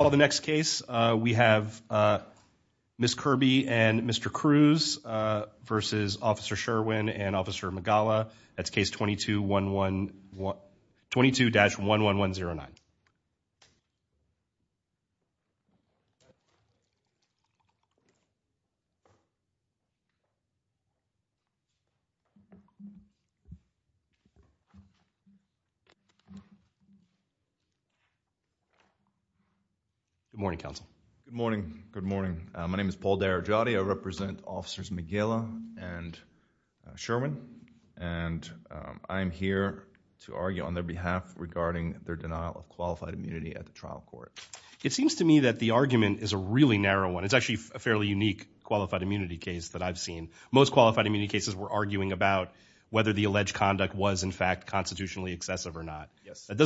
All the next case, we have Ms. Kirby and Mr. Cruz versus Officer Sherwin and Officer Good morning, Counsel. Good morning. Good morning. My name is Paul D'Aragiotti. I represent Officers McGill and Sherwin and I'm here to argue on their behalf regarding their denial of qualified immunity at the trial court. It seems to me that the argument is a really narrow one. It's actually a fairly unique qualified immunity case that I've seen. Most qualified immunity cases we're arguing about whether the alleged conduct was in fact constitutionally excessive or not. Yes. That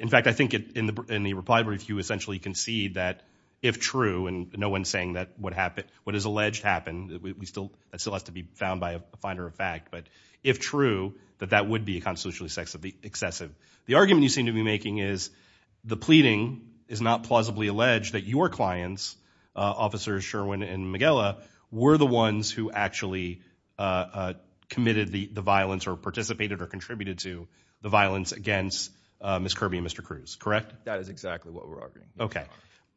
in fact I think in the in the reply brief you essentially concede that if true and no one's saying that what happened what is alleged happened we still that still has to be found by a finder of fact but if true that that would be a constitutionally excessive. The argument you seem to be making is the pleading is not plausibly alleged that your clients, Officers Sherwin and McGill were the ones who actually committed the the violence or participated or contributed to the violence against Ms. Kirby and Mr. Cruz. Correct? That is exactly what we're arguing. Okay.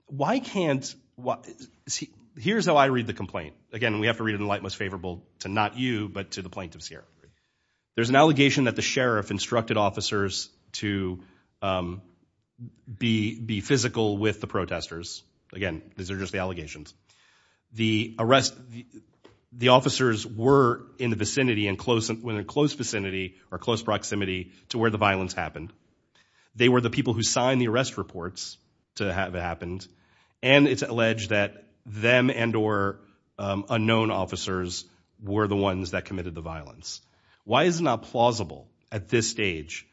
Why can't what see here's how I read the complaint. Again we have to read it in the light most favorable to not you but to the plaintiff's hearing. There's an allegation that the sheriff instructed officers to be be physical with the protesters. Again these are just the allegations. The arrest the officers were in the vicinity and close when a close vicinity or close proximity to where the violence happened. They were the people who signed the arrest reports to have it happened and it's alleged that them and or unknown officers were the ones that committed the violence. Why is it not plausible at this stage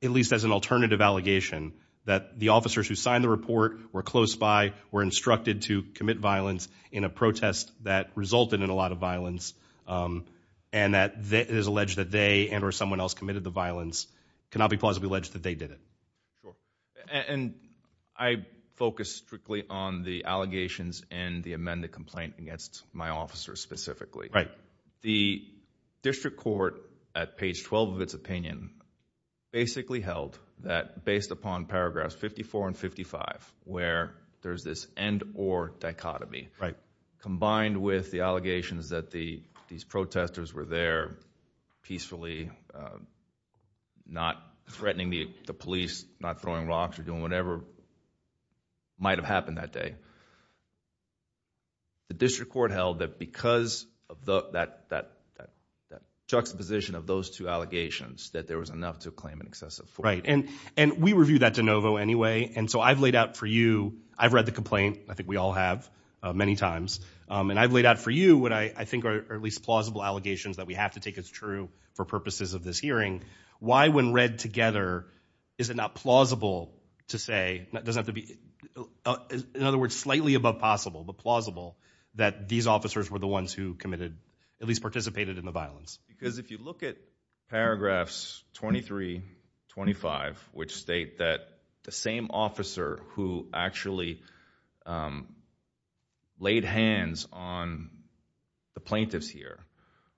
at least as an alternative allegation that the officers who signed the report were close by were instructed to commit violence in a protest that resulted in a lot of violence and that is alleged that they and or someone else committed the violence cannot be plausibly alleged that they did it. Sure and I focus strictly on the allegations and the amended complaint against my officers specifically. Right. The district court at page 12 of its opinion basically held that based upon paragraphs 54 and 55 where there's this end or dichotomy. Right. Combined with the allegations that the these protesters were there peacefully not threatening the police not throwing rocks or doing whatever might have happened that day. The district court held that because of the that that that juxtaposition of those two allegations that there was enough to claim an excessive. Right and and we review that de novo anyway and so I've laid out for you I've read the complaint I think we all have many times and I've laid out for you what I think are at least plausible allegations that we have to take as true for purposes of this hearing. Why when read together is it not plausible to say that doesn't have to be in other words slightly above possible but plausible that these officers were the ones who committed at least participated in the violence. Because if you look at paragraphs 23 25 which state that the same officer who actually laid hands on the plaintiffs here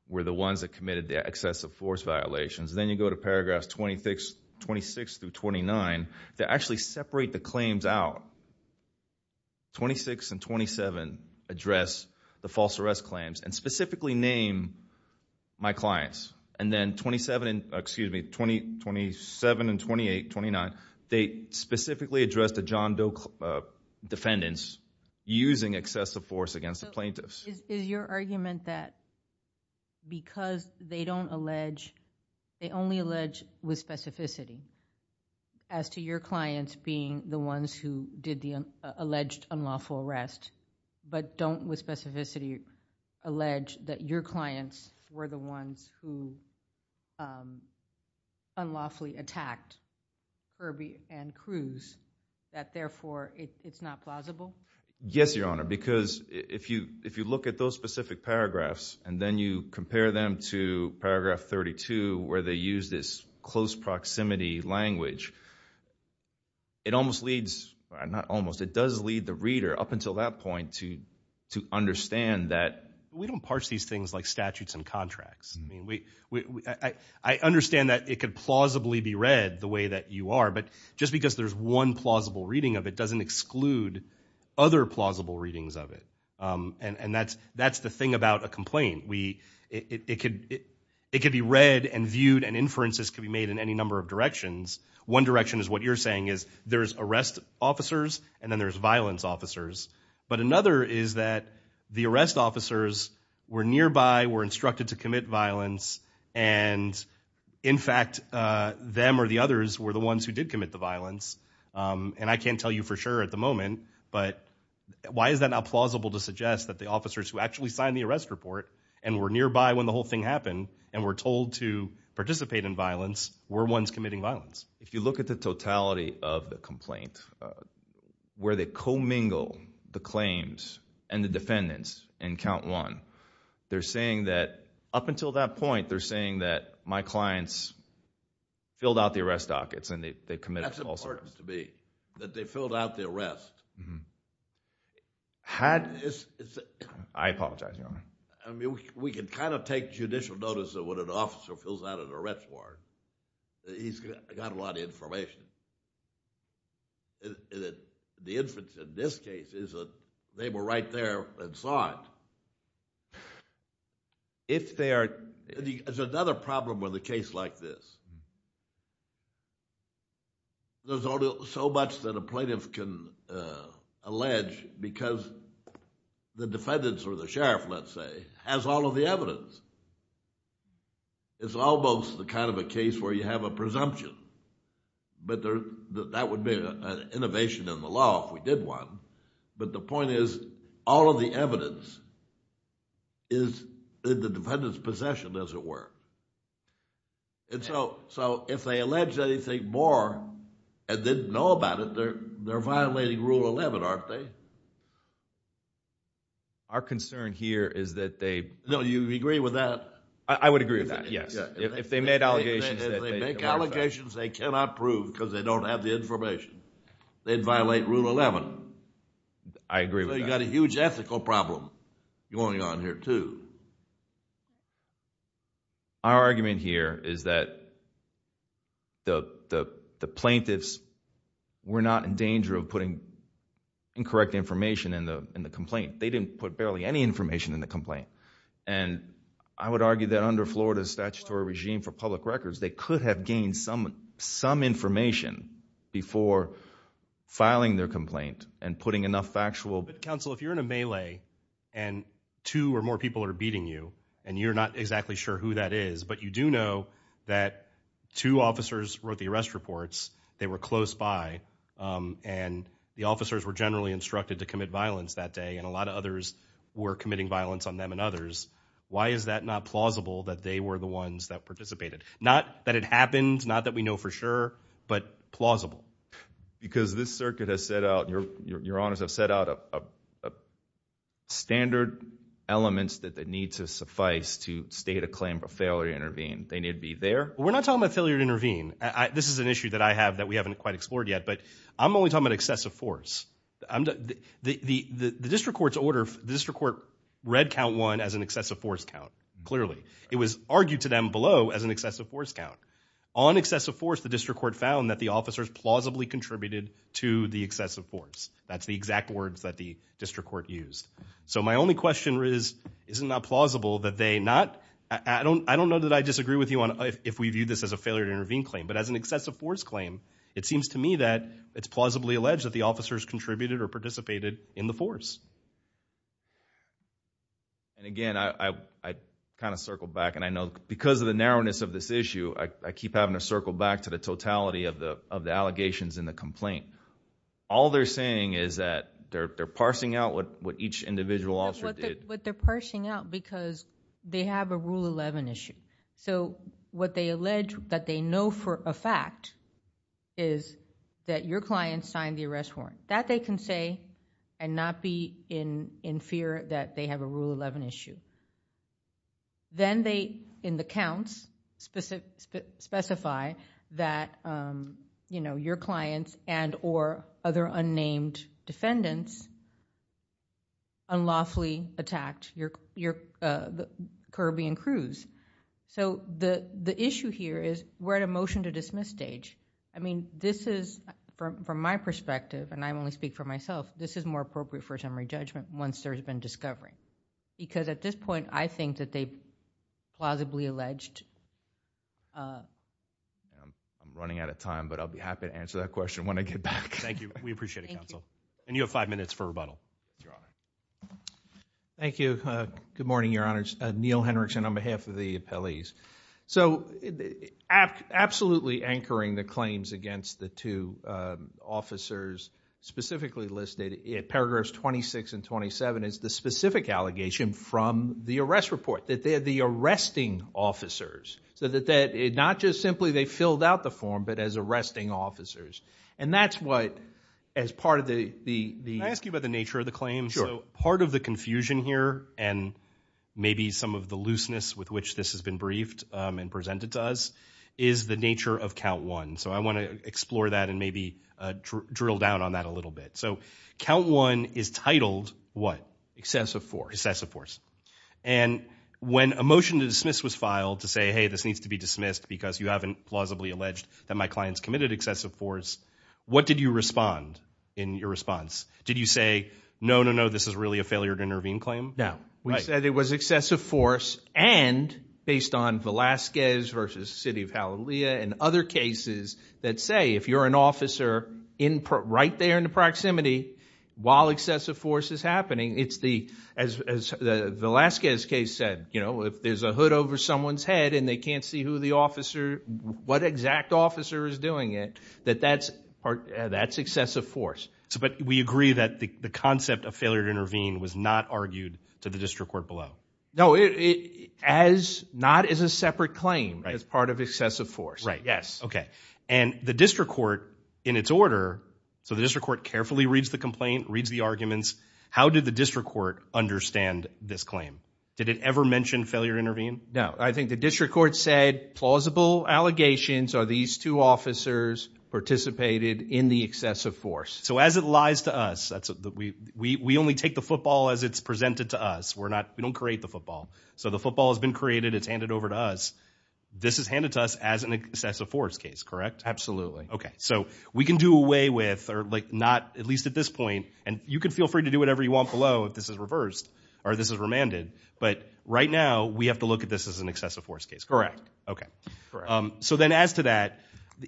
were the ones that committed the excessive force violations then you go to paragraphs 26 26 through 29 that actually separate the claims out. 26 and 27 address the false arrest claims and specifically name my clients and then 27 excuse me 20 27 and 28 29 they specifically address the John Doe defendants using excessive force against the plaintiffs. Is your argument that because they don't allege they only allege with specificity as to your clients being the ones who did the alleged unlawful arrest but don't with specificity allege that your clients were the ones who unlawfully attacked Kirby and Cruz that therefore it's not plausible? Yes your honor because if you if you look at those specific paragraphs and then you compare them to paragraph 32 where they use this close proximity language it almost leads not almost it does lead the reader up until that point to to understand that. We don't parse these things like statutes and contracts I mean we I understand that it could plausibly be read the way that you are but just because there's one plausible reading of it doesn't exclude other plausible readings of it and and that's that's the thing about a complaint we it could it could be read and viewed and inferences can be made in any number of directions. One direction is what you're saying is there's arrest officers and then there's violence officers but another is that the arrest officers were nearby were instructed to commit violence and in fact them or the others were the ones who did commit the violence and I can't tell you for sure at the moment but why is that not plausible to suggest that the officers who actually signed the arrest report and were nearby when the whole thing happened and were told to participate in violence were ones committing violence? If you look at the totality of the complaint where they co-mingle the claims and the defendants and count one they're saying that up until that point they're saying that my clients filled out the arrest dockets and they committed. That's important to me that they filled out the arrest. Had I apologize your honor. I mean we can kind of take judicial notice of what an officer fills out an arrest warrant. He's got a lot of information and the inference in this case is that they were right there and saw it. If they are there's another problem with a case like this. There's only so much that a plaintiff can allege because the defendants or the sheriff let's say has all of the evidence. It's almost the kind of a case where you have a presumption but there that would be an innovation in the law if we did one but the point is all of the evidence is the defendant's possession as it were. And so if they allege anything more and didn't know about it they're violating rule 11 aren't they? Our concern here is that they. No you agree with that. I would agree with that yes. If they made allegations. If they make allegations they cannot prove because they don't have the information. They'd violate rule 11. I agree. So you got a huge ethical problem going on here too. Our argument here is that the the the plaintiffs were not in danger of putting incorrect information in the in the complaint. They didn't put barely any information in the complaint and I would argue that under Florida's statutory regime for public records they could have gained some some information before filing their complaint and putting enough factual. But counsel if you're in a melee and two or more people are beating you and you're not exactly sure who that is but you do know that two officers wrote the arrest reports. They were close by and the officers were generally instructed to commit violence that day and a lot of others were committing violence on them and others. Why is that not plausible that they were the ones that participated? Not that it happened not that we know for sure but plausible. Because this circuit has set out your your honors have set out a standard elements that that need to suffice to state a claim for failure to intervene. They need to be there. We're not talking about failure to intervene. This is an issue that I have that we haven't quite explored yet but I'm only talking about excessive force. The the the district court's order the district court read count one as an excessive force count clearly. It was argued to them below as an excessive force count. On excessive force the district court found that the officers plausibly contributed to the excessive force. That's the exact words that the district court used. So my only question is isn't that plausible that they not I don't I don't know that I disagree with you on if we view this as a failure to intervene claim but as an excessive force claim it seems to me that it's plausibly alleged that the officers contributed or participated in the force. And again I I kind of circle back and I know because of the narrowness of this issue I keep having to circle back to the totality of the of the allegations in the complaint. All they're saying is that they're they're parsing out what what each individual officer did. What they're parsing out because they have a rule 11 issue. So what they can say and not be in in fear that they have a rule 11 issue. Then they in the counts specific specify that you know your clients and or other unnamed defendants unlawfully attacked your your Caribbean cruise. So the the issue here is we're at a motion to dismiss stage. I mean this is from my perspective and I only speak for myself this is more appropriate for a summary judgment once there's been discovery. Because at this point I think that they plausibly alleged. I'm running out of time but I'll be happy to answer that question when I get back. Thank you we appreciate it counsel. And you have five minutes for rebuttal. Thank you. Good morning your honors. Neil Henrickson on behalf of the appellees. So absolutely anchoring the claims against the two officers specifically listed in paragraphs 26 and 27 is the specific allegation from the arrest report. That they're the arresting officers. So that that it not just simply they filled out the form but as arresting officers. And that's what as part of the... Can I ask you about the nature of the claim? Sure. Part of the presented to us is the nature of count one. So I want to explore that and maybe drill down on that a little bit. So count one is titled what? Excessive force. Excessive force. And when a motion to dismiss was filed to say hey this needs to be dismissed because you haven't plausibly alleged that my clients committed excessive force. What did you respond in your response? Did you say no no no this is really a failure to intervene claim? No. We said it was excessive force and based on Velasquez versus City of Halilea and other cases that say if you're an officer in right there in the proximity while excessive force is happening it's the as the Velasquez case said you know if there's a hood over someone's head and they can't see who the officer what exact officer is doing it that that's part that's excessive force. So but we agree that the not as a separate claim as part of excessive force. Right yes okay and the district court in its order so the district court carefully reads the complaint reads the arguments how did the district court understand this claim? Did it ever mention failure to intervene? No I think the district court said plausible allegations are these two officers participated in the excessive force. So as it lies to us that's we we only take the football as it's presented to us we're not we the football has been created it's handed over to us this is handed to us as an excessive force case correct? Absolutely. Okay so we can do away with or like not at least at this point and you can feel free to do whatever you want below if this is reversed or this is remanded but right now we have to look at this as an excessive force case. Correct. Okay so then as to that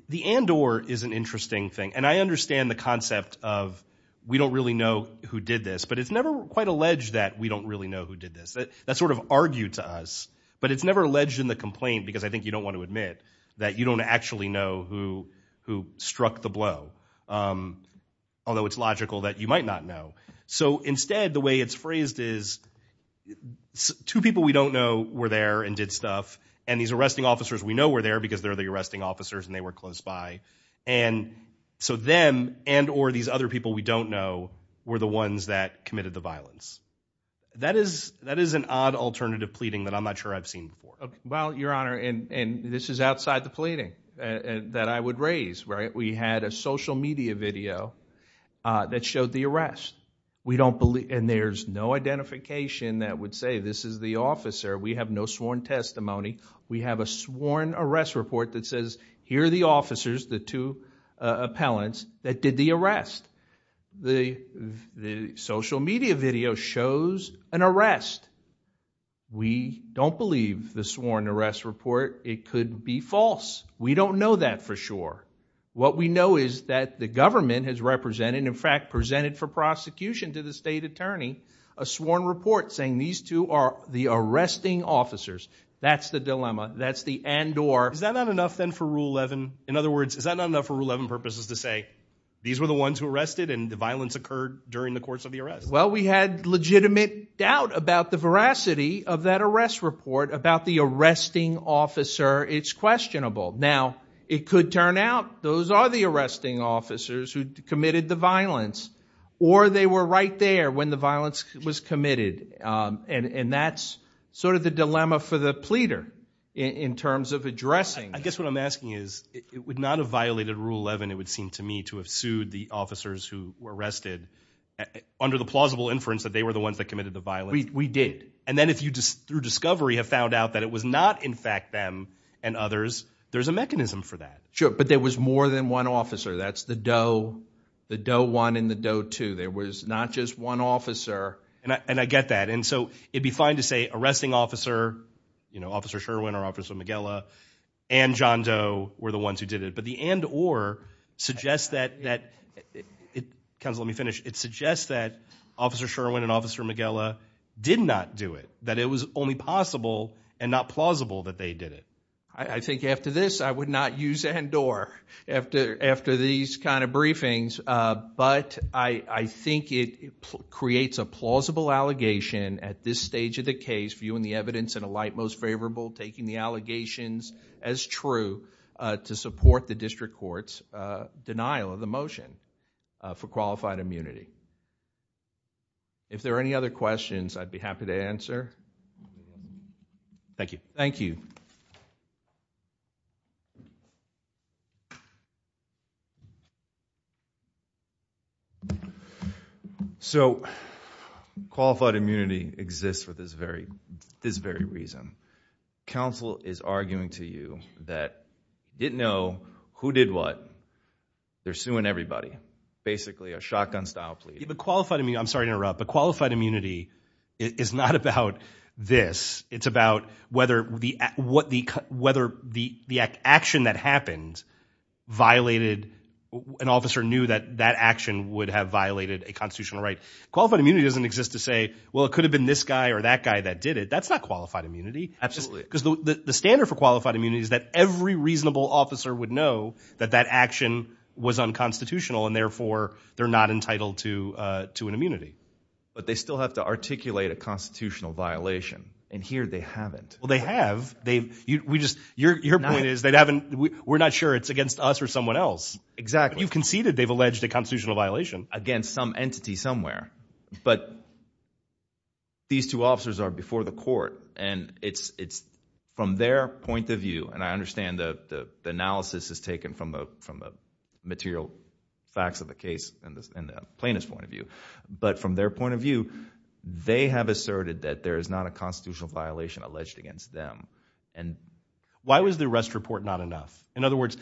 the and or is an interesting thing and I understand the concept of we don't really know who did this but it's never quite alleged that we don't really know who did this that sort of argued to us but it's never alleged in the complaint because I think you don't want to admit that you don't actually know who who struck the blow although it's logical that you might not know so instead the way it's phrased is two people we don't know were there and did stuff and these arresting officers we know were there because they're the arresting officers and they were close by and so them and or these other people we don't know were the ones that committed the alternative pleading that I'm not sure I've seen before. Well your honor and and this is outside the pleading and that I would raise right we had a social media video uh that showed the arrest we don't believe and there's no identification that would say this is the officer we have no sworn testimony we have a sworn arrest report that says here are the officers the two uh appellants that did the arrest the the social media video shows an arrest we don't believe the sworn arrest report it could be false we don't know that for sure what we know is that the government has represented in fact presented for prosecution to the state attorney a sworn report saying these two are the arresting officers that's the dilemma that's the and or is that not enough then for in other words is that not enough for rule 11 purposes to say these were the ones who arrested and the violence occurred during the course of the arrest well we had legitimate doubt about the veracity of that arrest report about the arresting officer it's questionable now it could turn out those are the arresting officers who committed the violence or they were right there when the violence was committed um and and that's sort of the dilemma for the pleader in terms of addressing i guess what i'm asking is it would not have violated rule 11 it would seem to me to have sued the officers who were arrested under the plausible inference that they were the ones that committed the violence we did and then if you just through discovery have found out that it was not in fact them and others there's a mechanism for that sure but there was more than one officer that's the dough the dough one in the dough two there was not just one officer and i and i get that and so it'd be fine to say arresting officer you know officer sherwin or officer mcgilla and john doe were the ones who did it but the and or suggests that that it comes let me finish it suggests that officer sherwin and officer mcgilla did not do it that it was only possible and not plausible that they did it i think after this i would not use and or after after these kind of briefings uh but i i think it creates a plausible allegation at this stage of the case viewing the evidence in a light most favorable taking the allegations as true uh to support the district court's uh denial of the motion for qualified immunity if there are any other questions i'd be happy to answer thank you thank you so qualified immunity exists for this very this very reason council is arguing to you that didn't know who did what they're suing everybody basically a shotgun style plea but qualified i'm sorry to interrupt but qualified immunity is not about this it's about whether the what the whether the the action that happened violated an officer knew that that action would have violated a constitutional right qualified immunity doesn't exist to say well it could have been this guy or that guy that did it that's not qualified immunity absolutely because the the standard for qualified immunity is that every reasonable officer would know that that action was unconstitutional and but they still have to articulate a constitutional violation and here they haven't well they have they've we just your your point is they haven't we're not sure it's against us or someone else exactly you've conceded they've alleged a constitutional violation against some entity somewhere but these two officers are before the court and it's it's from their point of view and i understand the the analysis is taken from the from the material facts of the case and the plaintiff's but from their point of view they have asserted that there is not a constitutional violation alleged against them and why was the arrest report not enough in other words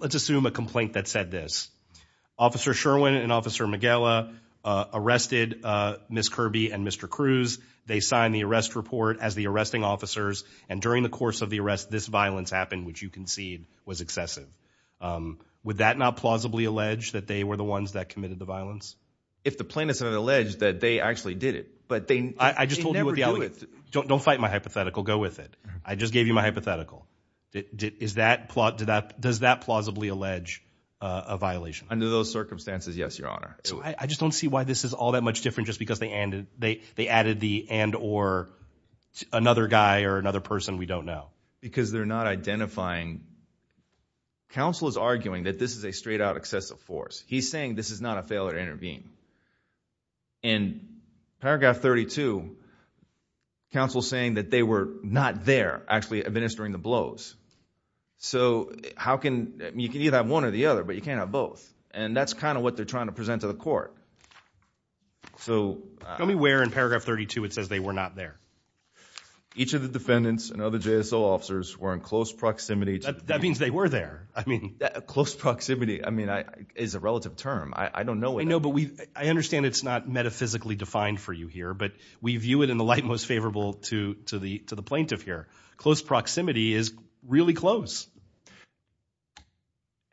let's assume a complaint that said this officer sherwin and officer mcgilla arrested uh miss kirby and mr cruz they signed the arrest report as the arresting officers and during the course of the arrest this violence happened which you concede was excessive um would that not plausibly allege that they were the ones that alleged that they actually did it but they i just told you don't don't fight my hypothetical go with it i just gave you my hypothetical is that plot to that does that plausibly allege a violation under those circumstances yes your honor so i just don't see why this is all that much different just because they ended they they added the and or another guy or another person we don't know because they're not identifying counsel is arguing that this is a straight out he's saying this is not a failure to intervene in paragraph 32 counsel saying that they were not there actually administering the blows so how can you can either have one or the other but you can't have both and that's kind of what they're trying to present to the court so tell me where in paragraph 32 it says they were not there each of the defendants and other jso officers were in close proximity that means they were there i mean close proximity i mean i is a relative term i i don't know what i know but we i understand it's not metaphysically defined for you here but we view it in the light most favorable to to the to the plaintiff here close proximity is really close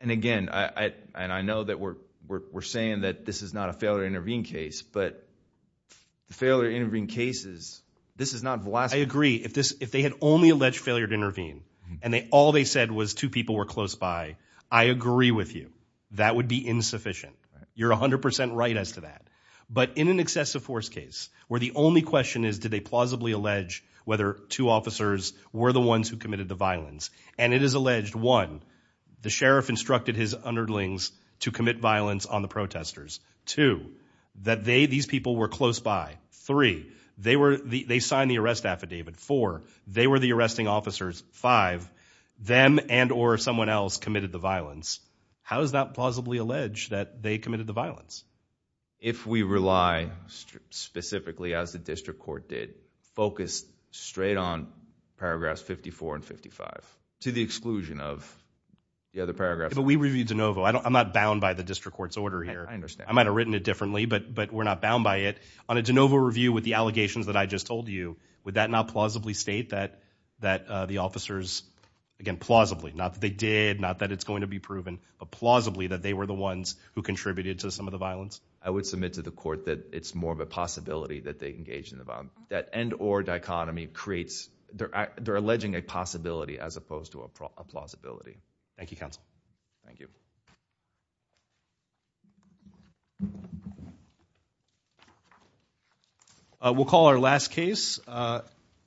and again i i and i know that we're we're saying that this is not a failure to intervene case but the failure to intervene cases this is not velocity i agree if this if they had only alleged failure to intervene and they all they said was two people were close i agree with you that would be insufficient you're 100 right as to that but in an excessive force case where the only question is did they plausibly allege whether two officers were the ones who committed the violence and it is alleged one the sheriff instructed his underlings to commit violence on the protesters two that they these people were close by three they were they violence how does that plausibly allege that they committed the violence if we rely specifically as the district court did focus straight on paragraphs 54 and 55 to the exclusion of the other paragraphs but we reviewed de novo i don't i'm not bound by the district court's order here i understand i might have written it differently but but we're not bound by it on a de novo review with the allegations that i just told you would that not plausibly state that that the officers again plausibly not that they did not that it's going to be proven but plausibly that they were the ones who contributed to some of the violence i would submit to the court that it's more of a possibility that they engage in the bomb that and or dichotomy creates their their alleging a possibility as opposed to a plausibility thank you